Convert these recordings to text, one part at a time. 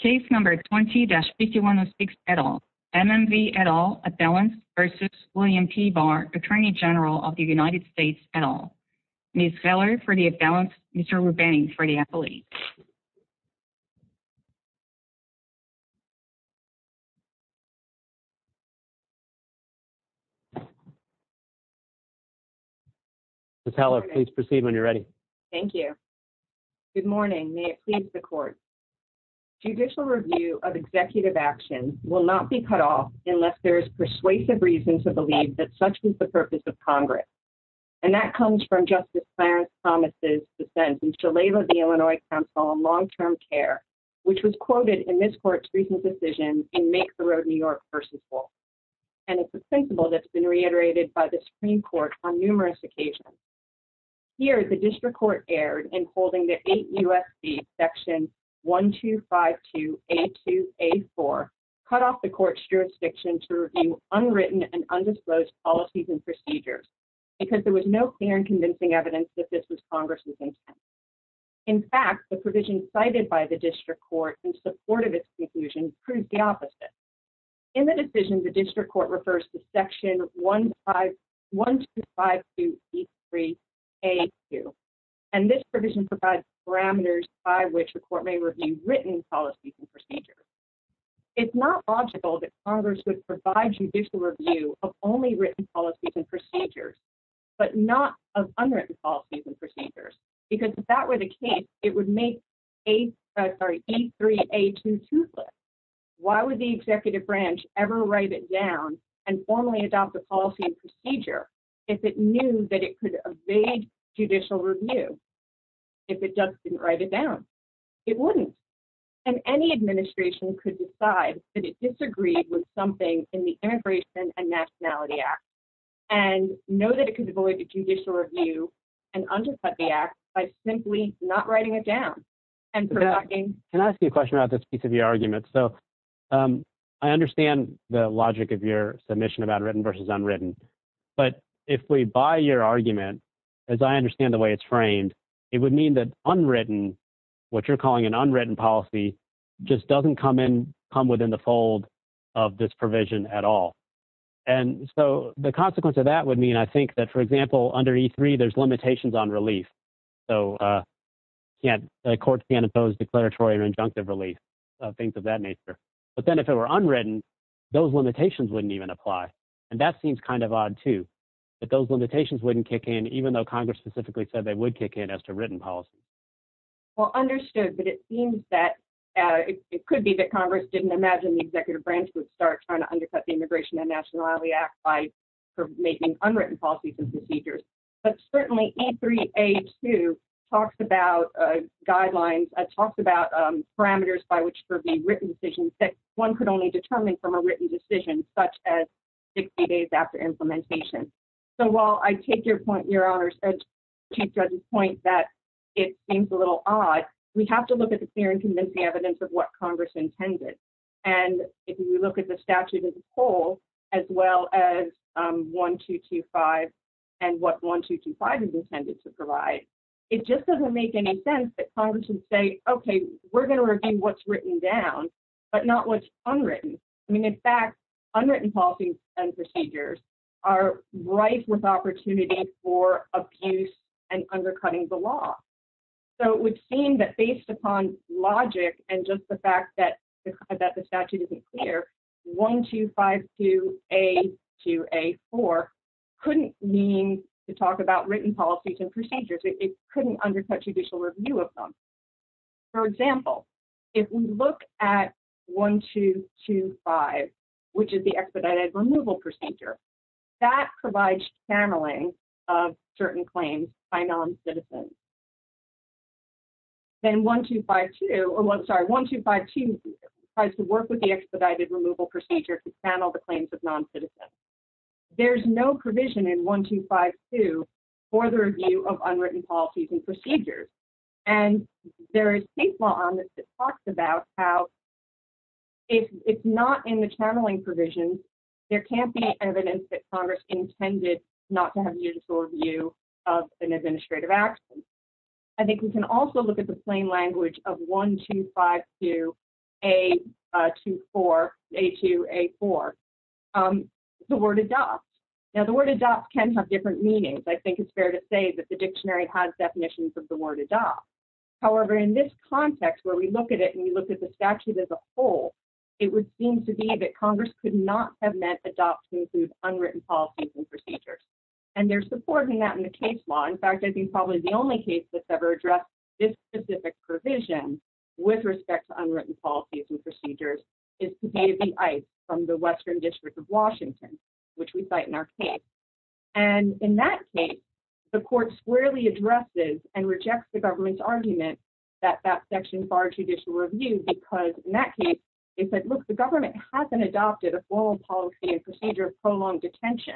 Attorney General of the United States at all, Ms. Heller for the abalance, Mr. Ruben for the appellate. Good morning, may it please the court judicial review of executive action will not be cut off unless there is persuasive reason to believe that such is the purpose of Congress. And that comes from justice. Clarence promises the sentence to label the Illinois Council on long term care, which was quoted in this court's recent decision and make the road New York person. And it's a sensible that's been reiterated by the Supreme Court on numerous occasions. Here, the district court aired and holding the eight U. S. B, section one, two, five, two, eight, two, eight, four, cut off the court's jurisdiction to review unwritten and undisclosed policies and procedures. Because there was no clear and convincing evidence that this was Congress. In fact, the provision cited by the district court in support of its conclusion proves the opposite. In the decision, the district court refers to section one, five, one, two, five, three. And this provision provides parameters by which the court may review written policies and procedures. It's not logical that Congress would provide judicial review of only written policies and procedures. But not of policies and procedures, because if that were the case, it would make. Three, a two, two. Why would the executive branch ever write it down and formally adopt the policy and procedure? If it knew that it could evade judicial review. If it doesn't write it down, it wouldn't. And any administration could decide that it disagreed with something in the immigration and nationality act. And know that it could avoid the judicial review and undercut the act by simply not writing it down. Can I ask you a question about this piece of your argument? So, I understand the logic of your submission about written versus unwritten. But if we buy your argument, as I understand the way it's framed, it would mean that unwritten, what you're calling an unwritten policy, just doesn't come in, come within the fold of this provision at all. And so, the consequence of that would mean, I think, that, for example, under E3, there's limitations on relief. So, the court can't impose declaratory or injunctive relief, things of that nature. But then if it were unwritten, those limitations wouldn't even apply. And that seems kind of odd, too, that those limitations wouldn't kick in, even though Congress specifically said they would kick in as to written policy. Well, understood, but it seems that it could be that Congress didn't imagine the executive branch would start trying to undercut the immigration and nationality act by making unwritten policies and procedures. But certainly E3A2 talks about guidelines, talks about parameters by which for the written decisions that one could only determine from a written decision, such as 60 days after implementation. So, while I take your point, Your Honor, to Judge's point that it seems a little odd, we have to look at the clear and convincing evidence of what Congress intended. And if you look at the statute as a whole, as well as 1225 and what 1225 is intended to provide, it just doesn't make any sense that Congress would say, okay, we're going to review what's written down, but not what's unwritten. I mean, in fact, unwritten policies and procedures are ripe with opportunity for abuse and undercutting the law. So, it would seem that based upon logic and just the fact that the statute isn't clear, 1252A2A4 couldn't mean to talk about written policies and procedures. It couldn't undercut judicial review of them. For example, if we look at 1225, which is the expedited removal procedure, that provides channeling of certain claims by noncitizens. Then 1252, or I'm sorry, 1252 tries to work with the expedited removal procedure to channel the claims of noncitizens. There's no provision in 1252 for the review of unwritten policies and procedures. And there is state law on this that talks about how if it's not in the channeling provision, there can't be evidence that Congress intended not to have judicial review of an administrative action. I think we can also look at the plain language of 1252A2A4. The word adopt. Now, the word adopt can have different meanings. I think it's fair to say that the dictionary has definitions of the word adopt. However, in this context where we look at it and we look at the statute as a whole, it would seem to be that Congress could not have meant adopt to include unwritten policies and procedures. And they're supporting that in the case law. In fact, I think probably the only case that's ever addressed this specific provision with respect to unwritten policies and procedures is to B2B Ice from the Western District of Washington, which we cite in our case. And in that case, the court squarely addresses and rejects the government's argument that that section barred judicial review because in that case, it said, look, the government hasn't adopted a formal policy and procedure of prolonged detention.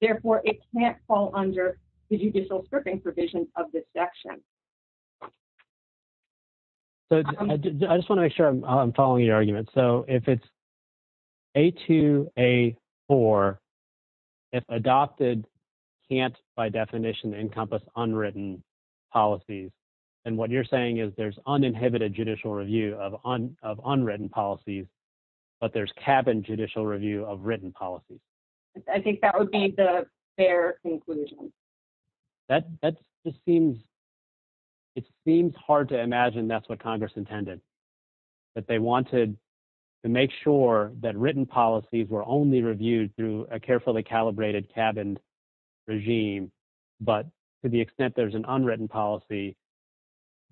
Therefore, it can't fall under the judicial stripping provisions of this section. I just want to make sure I'm following your argument. So if it's A2A4, if adopted, can't by definition encompass unwritten policies. And what you're saying is there's uninhibited judicial review of unwritten policies, but there's cabin judicial review of written policies. I think that would be the fair conclusion. That just seems, it seems hard to imagine that's what Congress intended, that they wanted to make sure that written policies were only reviewed through a carefully calibrated cabin regime. But to the extent there's an unwritten policy,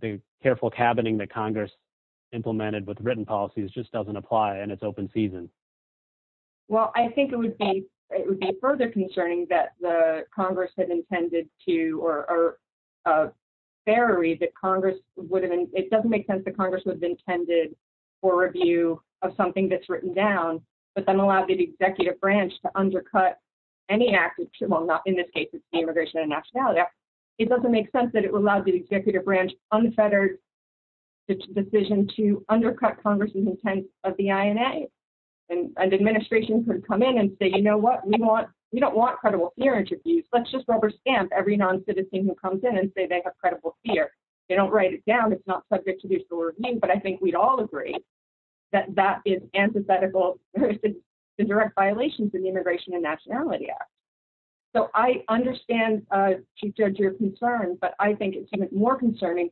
the careful cabining that Congress implemented with written policies just doesn't apply and it's open season. Well, I think it would be, it would be further concerning that the Congress had intended to, or a ferry that Congress would have, it doesn't make sense that Congress would have intended for review of something that's written down. But then allowed the executive branch to undercut any active, well, not in this case, it's the Immigration and Nationality Act. It doesn't make sense that it would allow the executive branch unfettered decision to undercut Congress's intent of the INA and administration could come in and say, you know what, we want, we don't want credible fear interviews. Let's just rubber stamp every non-citizen who comes in and say they have credible fear. They don't write it down, it's not subject to judicial review, but I think we'd all agree that that is antithetical to direct violations in the Immigration and Nationality Act. So, I understand to judge your concern, but I think it's even more concerning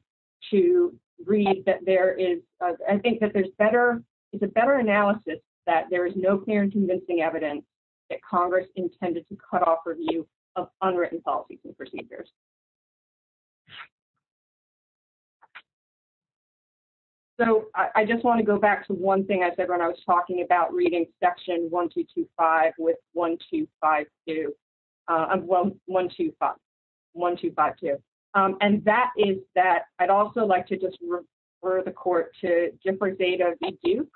to read that there is, I think that there's better, it's a better analysis that there is no clear and convincing evidence that Congress intended to cut off review of unwritten policies and procedures. So, I just want to go back to one thing I said when I was talking about reading section one, two, two, five with one, two, five, two, one, two, five, one, two, five, two. And that is that I'd also like to just refer the court to differ Zeta v. Duke,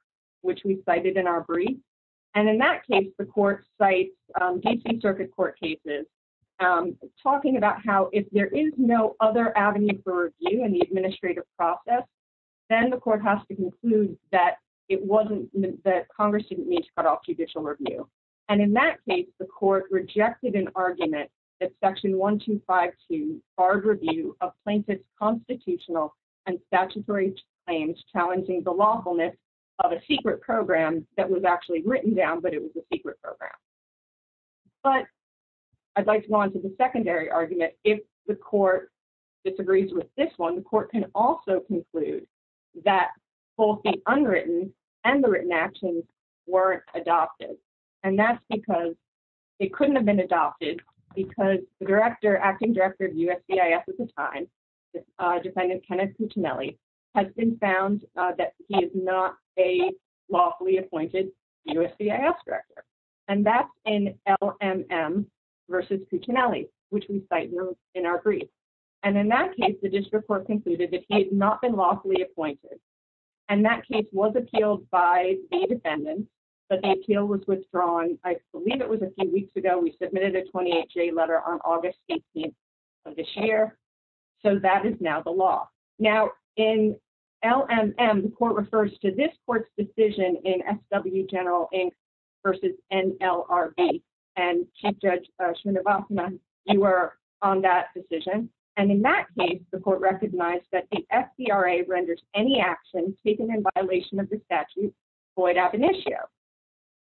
which we cited in our brief. And in that case, the court cites D.C. Circuit Court cases, talking about how if there is no other avenue for review in the administrative process, then the court has to conclude that it wasn't, that Congress didn't need to cut off judicial review. And in that case, the court rejected an argument that section one, two, five, two barred review of plaintiff's constitutional and statutory claims challenging the lawfulness of a secret program that was actually written down, but it was a secret program. But I'd like to go on to the secondary argument. If the court disagrees with this one, the court can also conclude that both the unwritten and the written actions weren't adopted. And that's because it couldn't have been adopted because the director, acting director of USCIS at the time, defendant Kenneth Puccinelli, has been found that he is not a lawfully appointed USCIS director. And that's in LMM v. Puccinelli, which we cite in our brief. And in that case, the district court concluded that he had not been lawfully appointed. And that case was appealed by the defendant, but the appeal was withdrawn. I believe it was a few weeks ago. We submitted a 28-J letter on August 18th of this year. So that is now the law. Now, in LMM, the court refers to this court's decision in SW General Inc. v. NLRB. And Chief Judge Srinivasan, you were on that decision. And in that case, the court recognized that the FDRA renders any actions taken in violation of the statute void ab initio.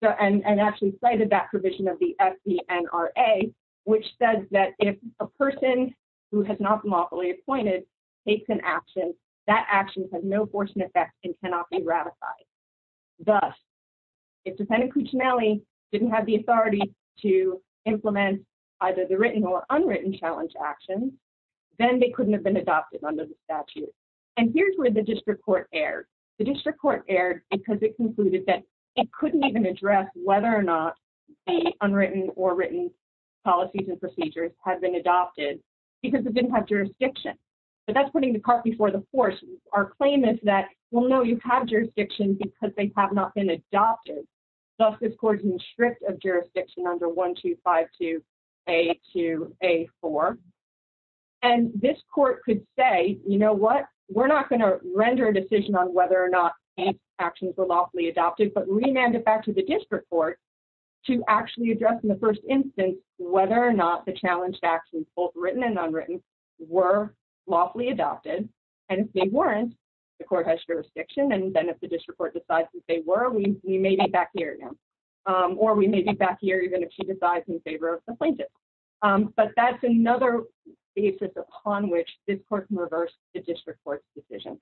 And actually cited that provision of the FDNRA, which says that if a person who has not been lawfully appointed takes an action, that action has no force and effect and cannot be ratified. Thus, if defendant Puccinelli didn't have the authority to implement either the written or unwritten challenge action, then they couldn't have been adopted under the statute. And here's where the district court erred. The district court erred because it concluded that it couldn't even address whether or not the unwritten or written policies and procedures had been adopted because it didn't have jurisdiction. But that's putting the cart before the horse. Our claim is that, well, no, you have jurisdiction because they have not been adopted. Thus, this court is in strict of jurisdiction under 1252A2A4. And this court could say, you know what, we're not going to render a decision on whether or not these actions were lawfully adopted, but remand it back to the district court to actually address in the first instance whether or not the challenged actions, both written and unwritten, were lawfully adopted. And if they weren't, the court has jurisdiction. And then if the district court decides that they were, we may be back here again. Or we may be back here even if she decides in favor of the plaintiff. But that's another basis upon which this court can reverse the district court's decision.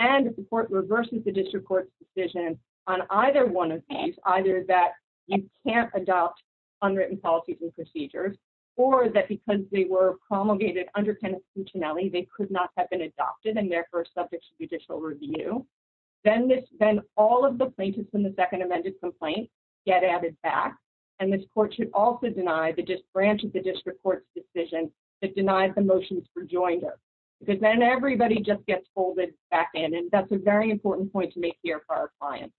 And if the court reverses the district court's decision on either one of these, either that you can't adopt unwritten policies and procedures, or that because they were promulgated under Penitentiary, they could not have been adopted and therefore subject to judicial review, then all of the plaintiffs in the second amended complaint get added back. And this court should also deny the branch of the district court's decision that denies the motions for joinder. Because then everybody just gets folded back in, and that's a very important point to make here for our clients.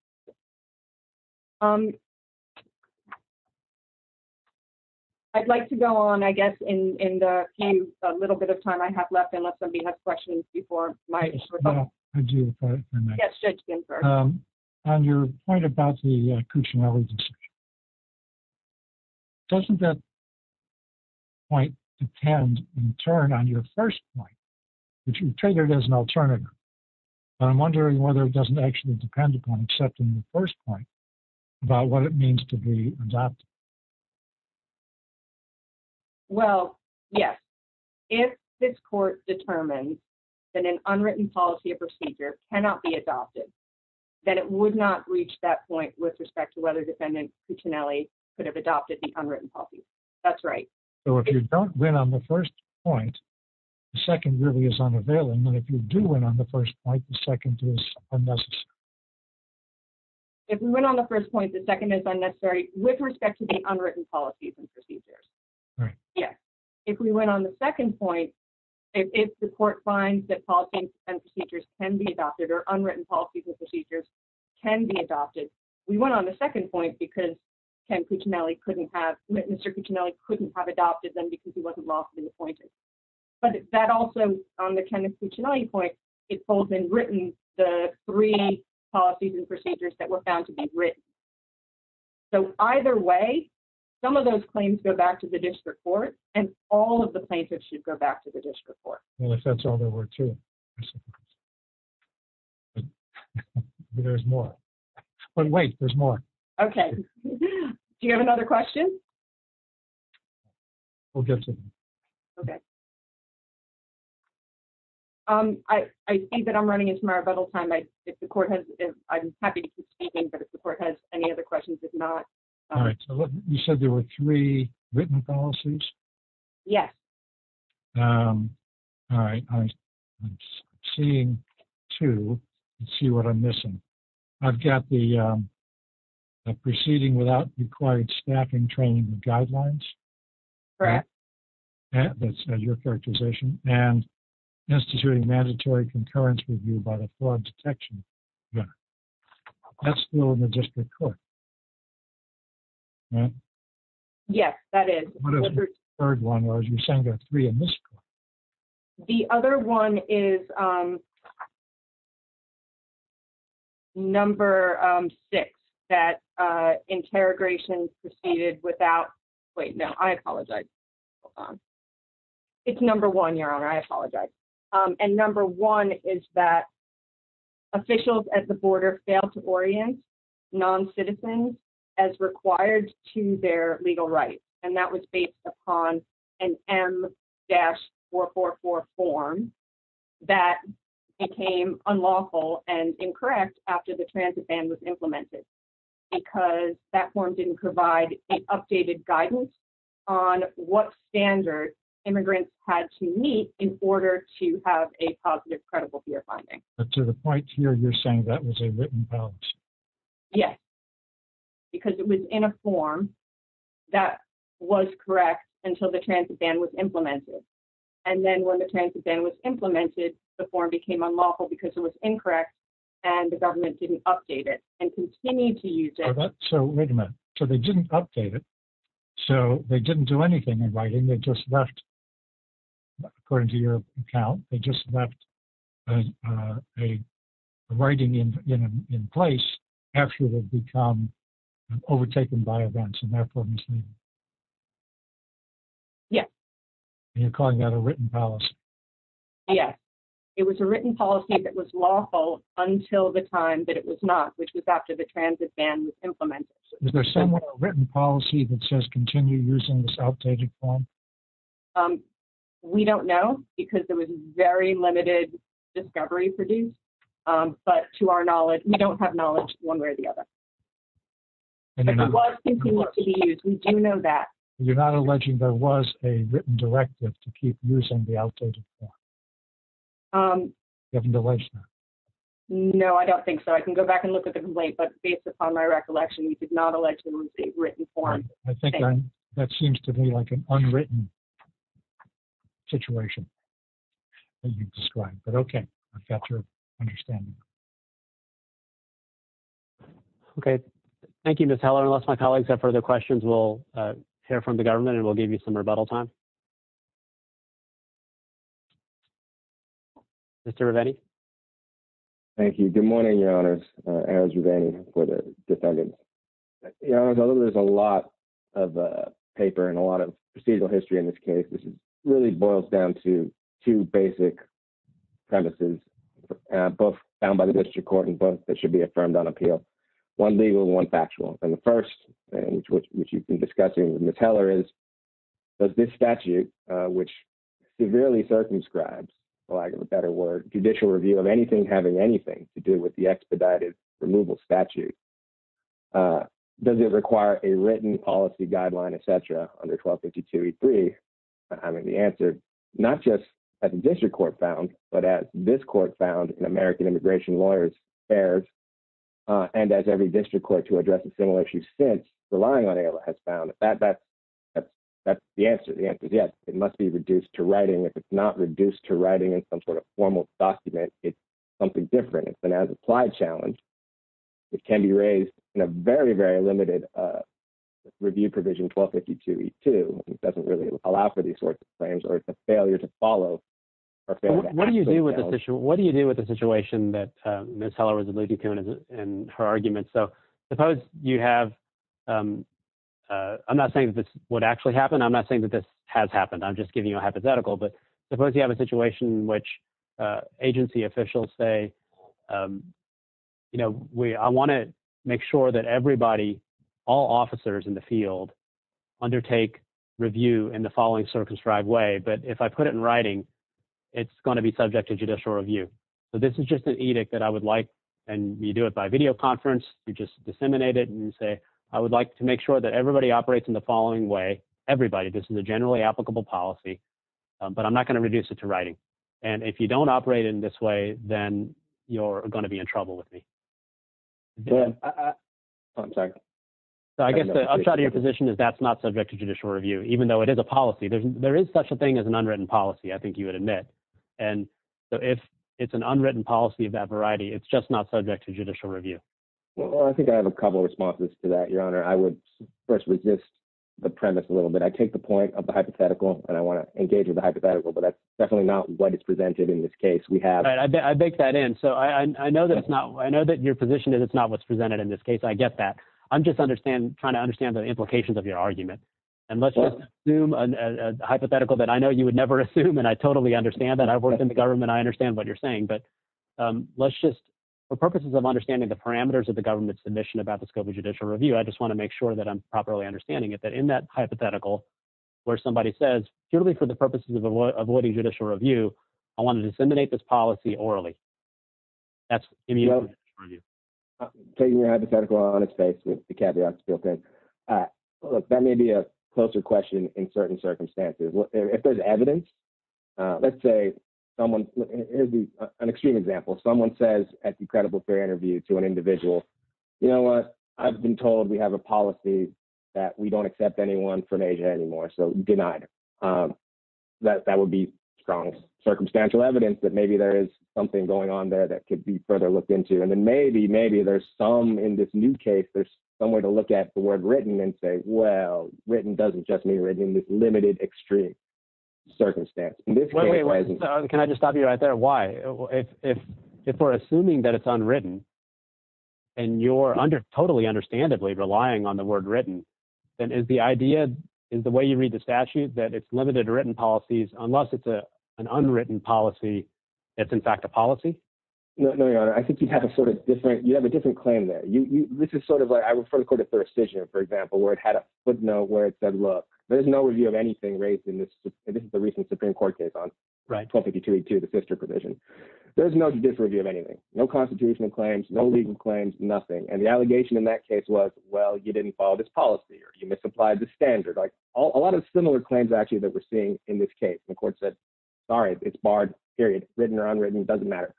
I'd like to go on, I guess, in the little bit of time I have left, unless somebody has questions before my... Yes, Judge Ginsburg. On your point about the Cuccinelli decision, doesn't that point depend, in turn, on your first point? If you take it as an alternative. I'm wondering whether it doesn't actually depend upon, except in the first point, about what it means to be adopted. Well, yes. If this court determines that an unwritten policy or procedure cannot be adopted, then it would not reach that point with respect to whether defendant Cuccinelli could have adopted the unwritten policy. That's right. So if you don't win on the first point, the second really is unavailable, and if you do win on the first point, the second is unnecessary. If we win on the first point, the second is unnecessary with respect to the unwritten policies and procedures. Right. Yes. If we win on the second point, if the court finds that policies and procedures can be adopted, or unwritten policies and procedures can be adopted, we win on the second point because Mr. Cuccinelli couldn't have adopted them because he wasn't lawfully appointed. But that also, on the Kenneth Cuccinelli point, it holds in written the three policies and procedures that were found to be written. So either way, some of those claims go back to the district court, and all of the plaintiffs should go back to the district court. Well, if that's all there were, too. There's more. But wait, there's more. Okay. Do you have another question? We'll get to them. Okay. I see that I'm running into my rebuttal time. I'm happy to keep speaking, but if the court has any other questions, if not... All right. You said there were three written policies? Yes. All right. I'm seeing two. Let's see what I'm missing. I've got the proceeding without required staffing training guidelines. Correct. That's your characterization. And instituting mandatory concurrence review by the fraud detection center. That's still in the district court, right? Yes, that is. The third one was you're saying there are three in this court. The other one is number six, that interrogation proceeded without... It's number one, Your Honor. I apologize. And number one is that officials at the border failed to orient non-citizens as required to their legal rights. And that was based upon an M-444 form that became unlawful and incorrect after the transit ban was implemented because that form didn't provide an updated guidance on what standard immigrants had to meet in order to have a positive credible peer finding. But to the point here, you're saying that was a written policy? Yes, because it was in a form that was correct until the transit ban was implemented. And then when the transit ban was implemented, the form became unlawful because it was incorrect and the government didn't update it and continued to use it. Wait a minute. So they didn't update it. So they didn't do anything in writing. They just left, according to your account, they just left a writing in place after it had become overtaken by events and therefore misleading. Yes. And you're calling that a written policy? Yes. It was a written policy that was lawful until the time that it was not, which was after the transit ban was implemented. Is there some written policy that says continue using this outdated form? We don't know because there was very limited discovery produced. But to our knowledge, we don't have knowledge one way or the other. But it was continued to be used. We do know that. You're not alleging there was a written directive to keep using the outdated form? You haven't alleged that? No, I don't think so. I can go back and look at the complaint. But based upon my recollection, you did not allege there was a written form. I think that seems to be like an unwritten situation that you described. But okay. I've got your understanding. Okay. Thank you, Ms. Heller. Unless my colleagues have further questions, we'll hear from the government and we'll give you some rebuttal time. Mr. Rivetti. Thank you. Good morning, your honors. Aaron Rivetti for the defendant. Your honors, although there's a lot of paper and a lot of procedural history in this case, this really boils down to two basic premises, both found by the district court and both that should be affirmed on appeal, one legal and one factual. And the first, which you've been discussing with Ms. Heller, is does this statute, which severely circumscribes, for lack of a better word, judicial review of anything having anything to do with the expedited removal statute, does it require a written policy guideline, et cetera, under 1252E3? I mean, the answer, not just at the district court found, but as this court found in American Immigration Lawyers' Affairs, and as every district court to address a similar issue since relying on AILA has found, that's the answer. The answer is yes. It must be reduced to writing. It's not a formal document. It's something different. It's an as-applied challenge. It can be raised in a very, very limited review provision, 1252E2. It doesn't really allow for these sorts of claims or it's a failure to follow. What do you do with this issue? What do you do with the situation that Ms. Heller was alluding to in her argument? So suppose you have, I'm not saying that this would actually happen. I'm not saying that this has happened. I'm just giving you a hypothetical, but suppose you have a situation in which agency officials say, I want to make sure that everybody, all officers in the field undertake review in the following circumscribed way. But if I put it in writing, it's going to be subject to judicial review. So this is just an edict that I would like, and you do it by video conference. You just disseminate it and you say, I would like to make sure that everybody operates in the following way. Everybody, this is a generally applicable policy. But I'm not going to reduce it to writing. And if you don't operate in this way, then you're going to be in trouble with me. I'm sorry. So I guess I'll try to your position is that's not subject to judicial review, even though it is a policy. There is such a thing as an unwritten policy. I think you would admit. And so if it's an unwritten policy of that variety, it's just not subject to judicial review. Well, I think I have a couple of responses to that. Your honor. I would first resist the premise a little bit. I take the point of the hypothetical and I want to engage with the hypothetical, but that's definitely not what is presented in this case. We have. I baked that in. So I know that it's not, I know that your position is it's not what's presented in this case. I get that. I'm just understanding, trying to understand the implications of your argument and let's assume a hypothetical that I know you would never assume. And I totally understand that I've worked in the government. I understand what you're saying, but let's just. For purposes of understanding the parameters of the government's submission about the scope of judicial review. I just want to make sure that I'm properly understanding it, that in that hypothetical. Where somebody says purely for the purposes of avoiding judicial review. I want to disseminate this policy orally. That's. Taking your hypothetical on its face with the caveat. That may be a closer question in certain circumstances. If there's evidence. Let's say someone is an extreme example. Someone says at the credible fair interview to an individual. You know what? I've been told we have a policy. That we don't accept anyone from Asia anymore. So denied. That that would be strong circumstantial evidence that maybe there is something going on there that could be further looked into. And then maybe, maybe there's some in this new case, there's somewhere to look at the word written and say, well, written doesn't just mean written in this limited extreme. Circumstance. Can I just stop you right there? Why? If we're assuming that it's unwritten. And you're under totally understandably relying on the word written. And is the idea is the way you read the statute, that it's limited to written policies, unless it's a, an unwritten policy. It's in fact a policy. No, no, no. I think you'd have a sort of different, you have a different claim that you, you, this is sort of like, I refer to the court of third decision, for example, where it had a footnote where it said, look, there's no review of anything raised in this. And this is the recent Supreme court case on. Right. To the sister provision. There's no disreview of anything, no constitutional claims, no legal claims, nothing. And the allegation in that case was, well, you didn't follow this policy or you misapplied the standard. Like a lot of similar claims actually that we're seeing in this case, the court said, sorry, it's barred period, written or unwritten. It doesn't matter.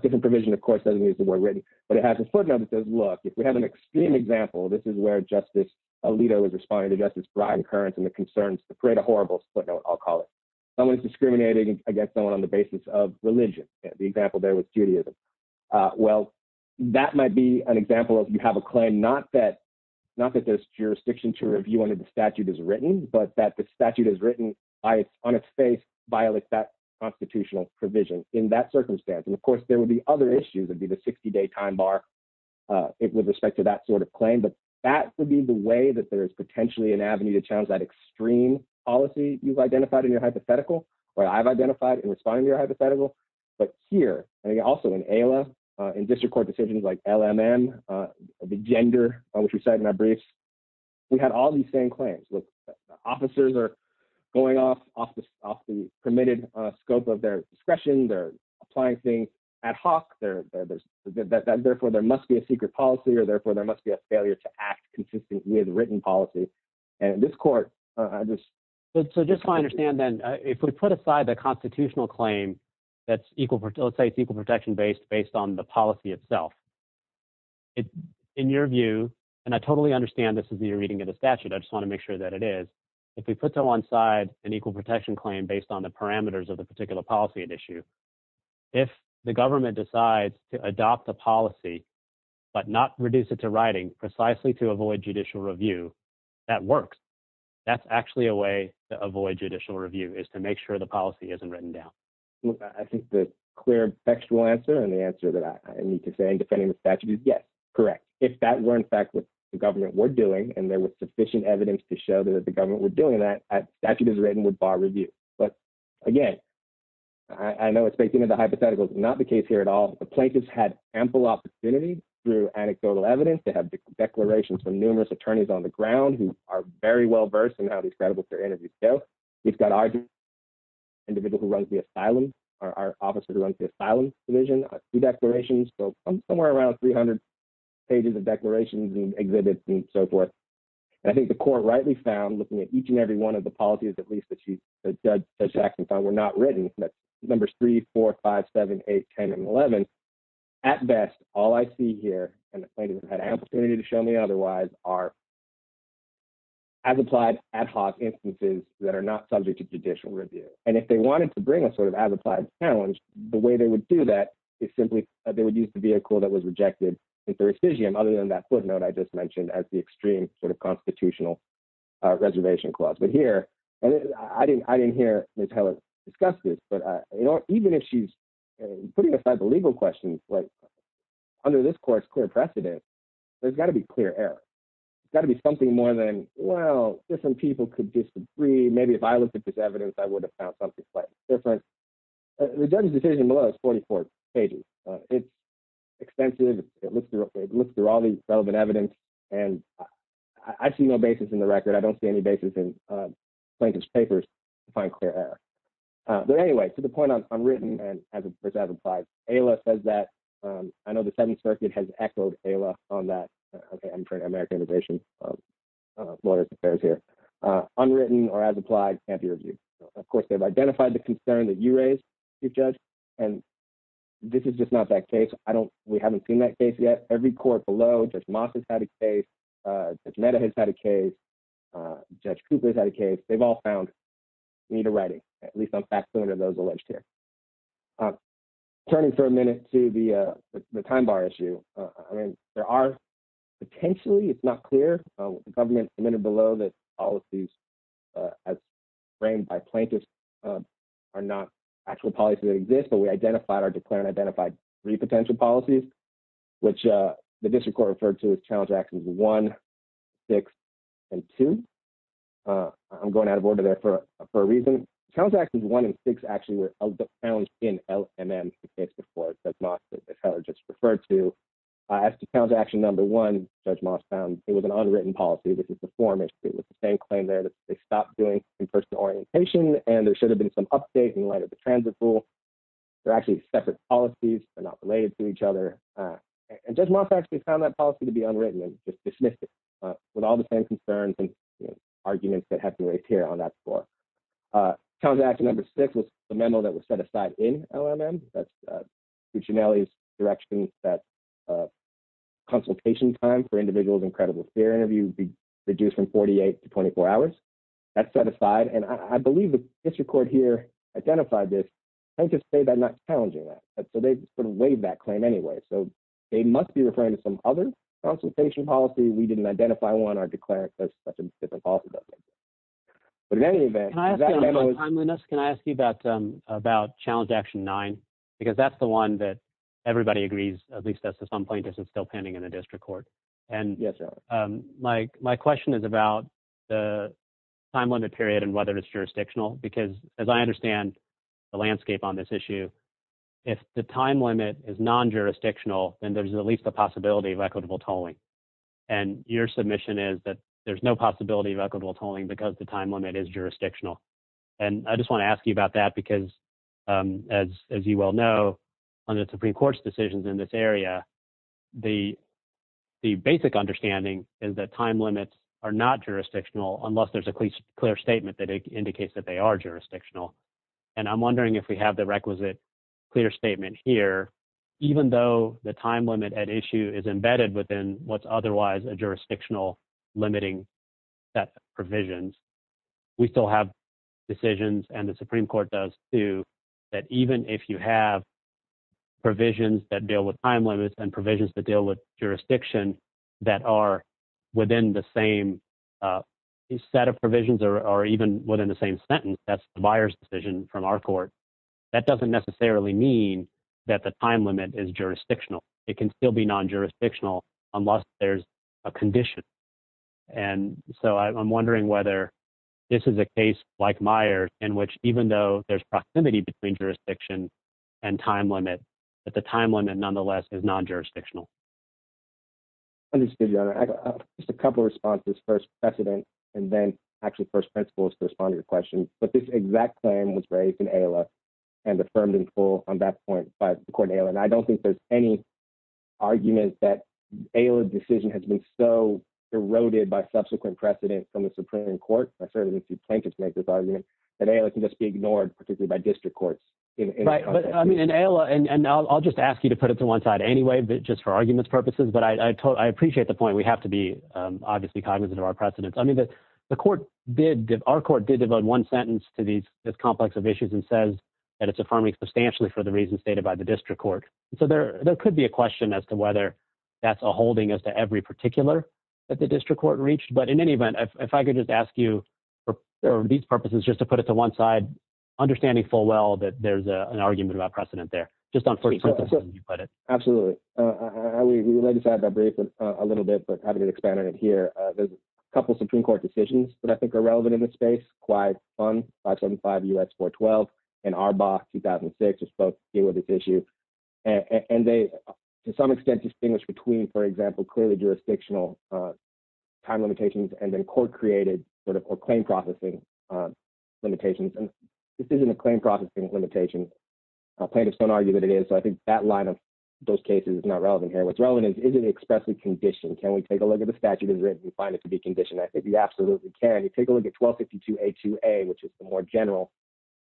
Different provision, of course, doesn't use the word written, but it has a footnote that says, look, if we have an extreme example, this is where justice. A leader was responding to justice, Brian currents and the concerns, the parade of horribles footnote. I'll call it. I'm going to discriminate against someone on the basis of religion. The example there with Judaism. Well, that might be an example of, you have a claim, not that. Not that there's jurisdiction to review under the statute is written, but that the statute is written. On its face. Violate that constitutional provision in that circumstance. And of course there would be other issues. It'd be the 60 day time bar. It was respect to that sort of claim, but that would be the way that there's potentially an avenue to challenge that. And so, you know, I'm not going to go into the details of that extreme policy. You've identified in your hypothetical. Well, I've identified and respond to your hypothetical. But here. And again, also in ALA. In district court decisions, like LMN. The gender. Which we sat in our briefs. We had all these same claims. Officers are. Going off office. Off the permitted scope of their discretion. They're applying things. And. There's a lot of. At Hawks. There there's. Therefore there must be a secret policy or therefore there must be a failure to act. Consistent with written policy. And this court. I just. So just to understand then. If we put aside the constitutional claim. That's equal. Let's say it's equal protection based, based on the policy itself. In your view. And I totally understand this as you're reading it, a statute. I just want to make sure that it is. If we put that one side and equal protection claim based on the parameters of the particular policy and issue. If the government decides to adopt the policy. But not reduce it to writing precisely to avoid judicial review. That works. That's actually a way to avoid judicial review is to make sure the policy isn't written down. I think the clear text will answer. And the answer that I need to say in defending the statute is yes. Correct. I think that's a way to avoid judicial review. If that were in fact with the government we're doing, and there was sufficient evidence to show that the government we're doing that. Actually does written with bar review. But again. I know it's based on the hypothetical. Not the case here at all. The plaintiffs had ample opportunity through anecdotal evidence to have declarations from numerous attorneys on the ground who are very well-versed in how these credible. I think the court rightly found looking at each and every one of the policies. At least that she's. We're not ready. Numbers three, four, five, seven, eight, 10 and 11. At best. All I see here. And the plaintiff had an opportunity to show me otherwise are. I think that's a way to avoid judicial review. I think that's a way to avoid judicial review. As applied ad hoc instances that are not subject to judicial review. And if they wanted to bring a sort of as applied challenge, the way they would do that. It's simply that they would use the vehicle that was rejected. Other than that footnote. I just mentioned as the extreme sort of constitutional. Reservation clause, but here. I didn't, I didn't hear. Discuss this, but. Even if she's. Putting aside the legal questions. And the legal questions. Under this course. We're pressed today. There's gotta be clear air. You've got to be something more than well, there's some people could just agree. Maybe if I looked at this evidence, I would have found something. Different. Below 44. It's. Expensive. It looks through all these relevant evidence. And I, I see no basis in the record. I don't see any basis in. Plaintiff's papers. To find clear air. But anyway, to the point I'm I'm written. And as a result of five. Ayla says that. I know the seventh circuit has echoed Ayla on that. Okay. I'm trying to Americanization. Lawyers affairs here. Unwritten or as applied. Of course, they've identified the concern that you raised. You judge. And. This is just not that case. I don't. We haven't seen that case yet. Every court below. They've all found. We need a writing. And that was alleged here. Turning for a minute to the. The time bar issue. There are. Potentially it's not clear. The government submitted below. Policies. Framed by plaintiff's. Are not. Actually policies exist, but we identified our declare and identified. Three potential policies. Which the district court referred to as challenge actions. One. Six. And two. I'm going out of order there for a, for a reason. One and six actually were found in LMM. That's not just referred to. I asked to count to action. Number one. Judge Moss found it was an unwritten policy. It was the same claim there. They stopped doing in-person orientation and there should have been some updates in light of the transit rule. They're actually separate policies. They're not related to each other. And judge Moss actually found that policy to be unwritten. With all the same concerns and. Arguments that have to wait here on that floor. Contact number six was the memo that was set aside in LMM. That's. Direction that. Consultation time for individuals. Incredible. They're interviewed. Reduce from 48 to 24 hours. That's the one that's set aside. And I believe the district court here. Identify this. I just say that not challenging that. So they sort of weighed that claim anyway. They must be referring to some other consultation policy. We didn't identify one or declare. But in any event. Can I ask you about, about challenge action nine? Because that's the one that everybody agrees. At least that's at some point. Yeah. I guess it's still pending in the district court. And yes. My question is about the. I'm on the period and whether it's jurisdictional because as I understand. The landscape on this issue. If the time limit is non-jurisdictional and there's at least a possibility of equitable tolling. And your submission is that there's no possibility of equitable tolling because the time limit is jurisdictional. And I just want to ask you about that because. As, as you well know. On the Supreme court's decisions in this area. The. The basic understanding is that time limits are not jurisdictional unless there's a clear statement that indicates that they are jurisdictional. And I'm wondering if we have the requisite. Clear statement here. Even though the time limit at issue is embedded within what's otherwise a jurisdictional. Limiting. That provisions. We still have decisions and the Supreme court does too. That even if you have. Provisions that deal with time limits and provisions to deal with jurisdiction. That are within the same. Instead of provisions or, or even within the same sentence. That's the buyer's decision from our court. That doesn't necessarily mean that the time limit is jurisdictional. It can still be non-jurisdictional. Unless there's a condition. And so I'm wondering whether. This is a case like Meyer and which, even though there's proximity between jurisdiction. And time limit. But the time limit nonetheless is non-jurisdictional. Just a couple of responses first precedent. And then actually first principle is to respond to your question. But this exact claim was raised in. And affirmed and full on that point. I don't think there's any. Argument that. A decision has been so eroded by subsequent precedent from the Supreme court. I certainly didn't see plaintiffs make this argument. And they can just be ignored, particularly by district courts. Right. And I'll just ask you to put it to one side anyway, but just for arguments purposes, but I, I told, I appreciate the point. We have to be obviously cognizant of our precedents. I mean, the. The court did give our court did devote one sentence to these. I mean, the court did give a sentence to this complex of issues and says that it's affirming substantially for the reasons stated by the district court. So there, there could be a question as to whether that's a holding as to every particular. At the district court reached, but in any event, if I could just ask you. Or these purposes, just to put it to one side. Understanding full well, that there's an argument about precedent there. Just on. Absolutely. Yeah. I mean, I, I, I, we, we, we, let's have a brief. A little bit, but having an expanded here. A couple of Supreme court decisions, but I think are relevant in this space. Quite fun. Five, seven, five U S four 12. And our box 2006. It was this issue. And they. To some extent distinguished between, for example, clearly jurisdictional time limitations and then court created. Sort of or claim processing. Limitations. So I think that line of those cases is not relevant here. What's relevant is, is it expressly conditioned? Can we take a look at the statute as written? You find it to be conditioned. I think you absolutely can. You take a look at 12, 52, a two a, which is the more general.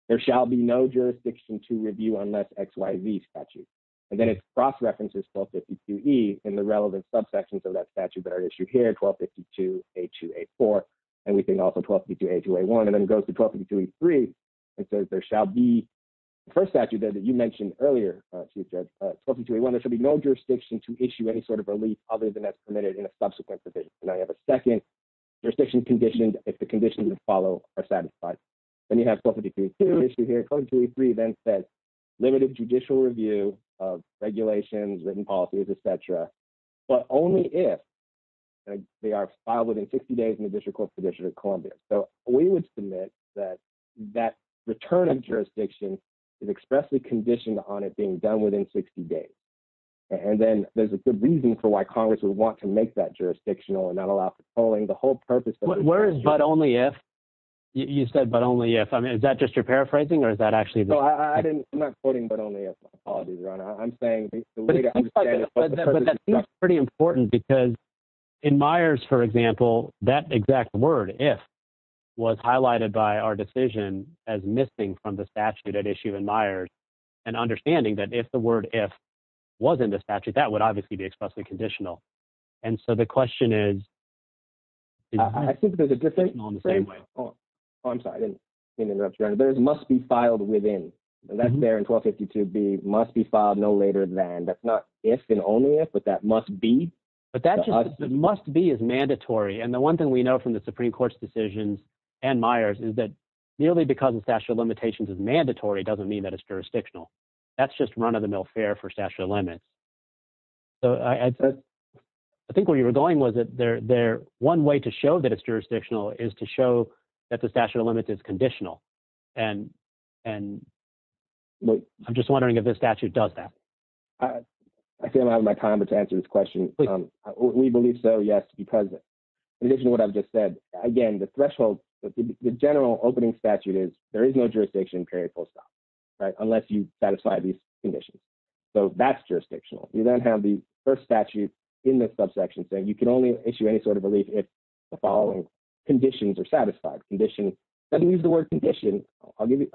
There shall be no jurisdiction to review on that XYZ statute. And then it's cross references. And then it goes to 12, 52. E in the relevant subsections of that statute that are issued here. 12, 52, a two, a four. And we think also 12, 52, a two, a one, and then it goes to 12. Three. It says there shall be. First statute that you mentioned earlier. 12. There should be no jurisdiction to issue any sort of relief other than that's permitted in a subsequent position. And I have a second. Your section conditioned. If the conditions that follow are satisfied. And you have, you have. And you have. Then you have. Then you have. Limited judicial review. Of regulations, written policies, et cetera. But only if. They are filed within 60 days in the district court position of Columbia. So we would submit that. That. Returning jurisdiction. It expressly conditioned on it being done within 60 days. And then there's a good reason for why Congress would want to make that a priority. The, the word if. There's jurisdictional and not allowed for calling the whole purpose. But only if you said, but only if. Is that just your paraphrasing or is that actually. I'm not quoting, but only. I'm saying. Pretty important because. In Myers, for example, that exact word. It was highlighted by our decision. As missing from the statute at issue in Myers. And understanding that if the word F. Was in the statute that would obviously be expressly conditional. And so the question is. I think there's a good thing on the same way. Oh, I'm sorry. There's must be filed within. That's there in 1250 to be must be filed no later than that's not. If and only if, but that must be. But that just must be as mandatory. And the one thing we know from the Supreme court's decisions. And Myers is that nearly because the statute of limitations is mandatory doesn't mean that it's jurisdictional. That's just run of the mill fare for statute of limits. So I. I think where you were going was that they're there one way to show that it's jurisdictional is to show that the statute of limits is conditional. And, and. I'm just wondering if this statute does that. I feel out of my time to answer this question. We believe so. Yes. Because. In addition to what I've just said, again, the threshold. The general opening statute is there is no jurisdiction period. It's a, it's a, it's a limited period that allows you to issue a post office or post office. Right. Unless you satisfy these conditions. So that's jurisdictional. You don't have the first statute in this subsection thing. You can only issue any sort of relief. The following. Conditions are satisfied condition. And he's the word condition. I'll give you.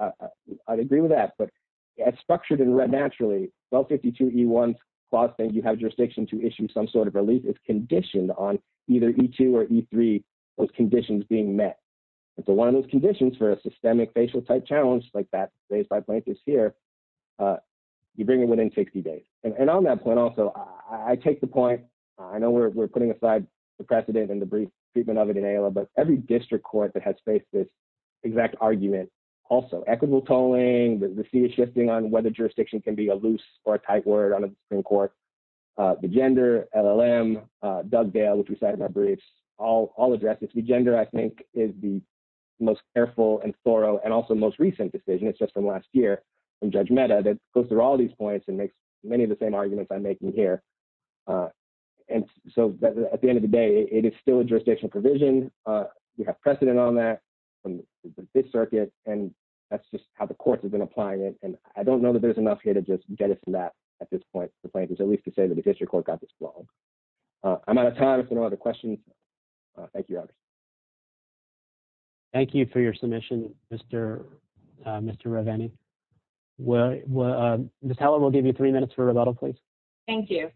I'd agree with that. It's a very. It's a very limited period of time. But it's structured. Well, 52 E1 clause, then you have jurisdiction to issue some sort of relief is conditioned on either E2 or E3. Those conditions being met. It's a, one of those conditions for a systemic facial type challenge like that. You bring it within 60 days. And on that point also, I take the point. I know we're, we're putting aside the precedent and the brief treatment of it in ALA, but every district court that has faced this exact argument. Also equitable tolling. The C is shifting on whether jurisdiction can be a loose or a tight word on a Supreme court. The gender LLM. Doug Dale, which we sat in our briefs. All all addresses the gender. I think is the. Most careful and thorough and also most recent decision. It's just from last year. And judge meta that goes through all these points and makes many of the same arguments I'm making here. And so at the end of the day, it is still a jurisdictional provision. We have precedent on that. From this circuit. And that's just how the courts have been applying it. And I don't know that there's enough here to just get it from that. At this point, the plaintiff's at least to say that the district court got this wrong. I'm out of time. If there are other questions. Thank you. Thank you for your submission, Mr. Mr. Well, well, Thank you.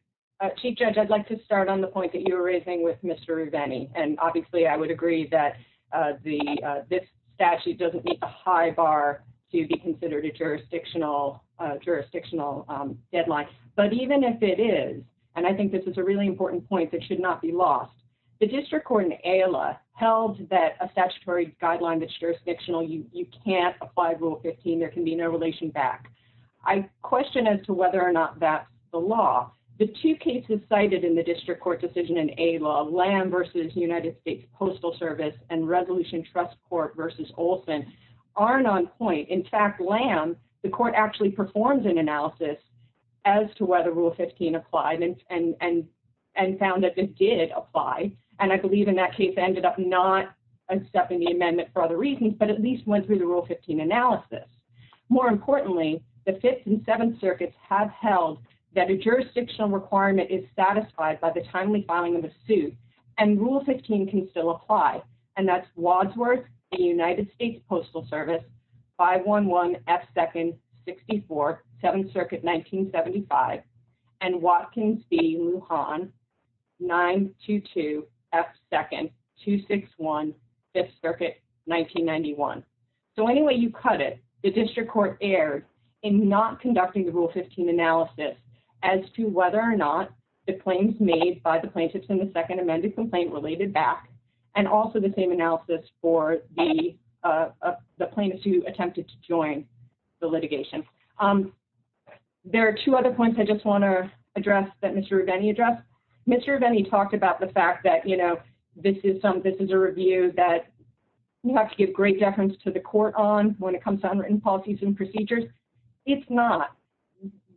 Chief judge, I'd like to start on the point that you were raising with Mr. And obviously I would agree that. The this statute doesn't meet the high bar. To be considered a jurisdictional. Jurisdictional deadline. But even if it is. And I think this is a really important point that should not be lost. The district court in a LA held that a statutory guideline, that's jurisdictional. You, you can't apply rule 15. There can be no relation back. I question as to whether or not that's the law. The two cases cited in the district court decision in a law lamb versus United States postal service and resolution trust court versus Olson. Aren't on point. In fact, lamb. The court actually performs an analysis. As to whether rule 15 applied and, and, and. And found that this did apply. And I believe in that case, I ended up not accepting the amendment for other reasons, but at least went through the rule 15 analysis. More importantly, the fifth and seventh circuits have held. That a jurisdictional requirement is satisfied by the timely filing of a suit. And rule 15 can still apply. And that's Wadsworth. The United States postal service. 5, 1, 1 F second. 64 7th circuit, 1975. And Watkins be on. 9, 2, 2 F second, 2, 6, 1. Fifth circuit, 1991. So anyway, you cut it. The district court aired in not conducting the rule 15 analysis. As to whether or not the claims made by the plaintiffs in the second amended complaint related back. And also the same analysis for the. The plaintiffs who attempted to join. The litigation. Okay. Thank you. There are two other points. I just want to address that. Mr. Redenny address. Mr. Redenny talked about the fact that, you know, this is some, this is a review that. You have to give great deference to the court on when it comes to unwritten policies and procedures. It's not.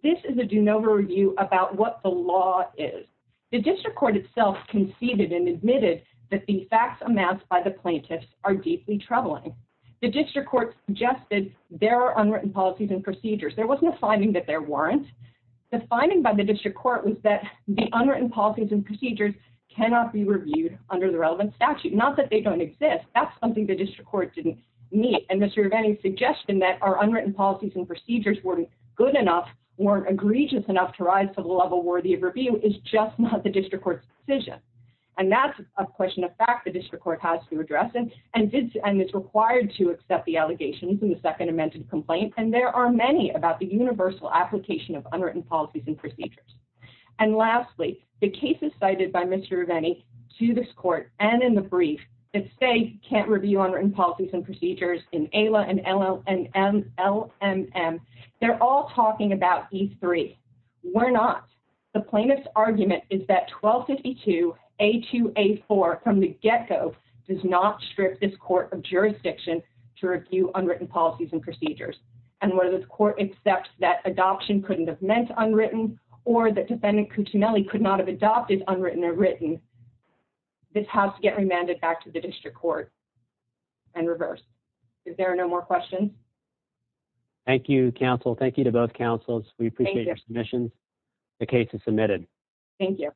This is a DeNova review about what the law is. The district court itself conceded and admitted that the facts amassed by the plaintiffs are deeply troubling. The district court. Just that there are unwritten policies and procedures. There wasn't a finding that there weren't. The finding by the district court was that the unwritten policies and procedures cannot be reviewed under the relevant statute. Not that they don't exist. That's something that district court didn't meet. And Mr. Redenny suggestion that our unwritten policies and procedures weren't good enough. And that's a question of fact. The district court has to address them. And it's, and it's required to accept the allegations in the second amended complaint. And there are many about the universal application of unwritten policies and procedures. And lastly, the cases cited by Mr. Redenny. To this court and in the brief. The plaintiff's argument is that 1252. A two, a four from the get-go. Does not strip this court of jurisdiction. To review unwritten policies and procedures. And whether the court accepts that adoption couldn't have meant unwritten or the defendant. Could not have adopted unwritten or written. This has to get remanded back to the district court. And reverse. If there are no more questions. Thank you. Counsel. Thank you to both councils. We appreciate your submissions. The case is submitted. Thank you.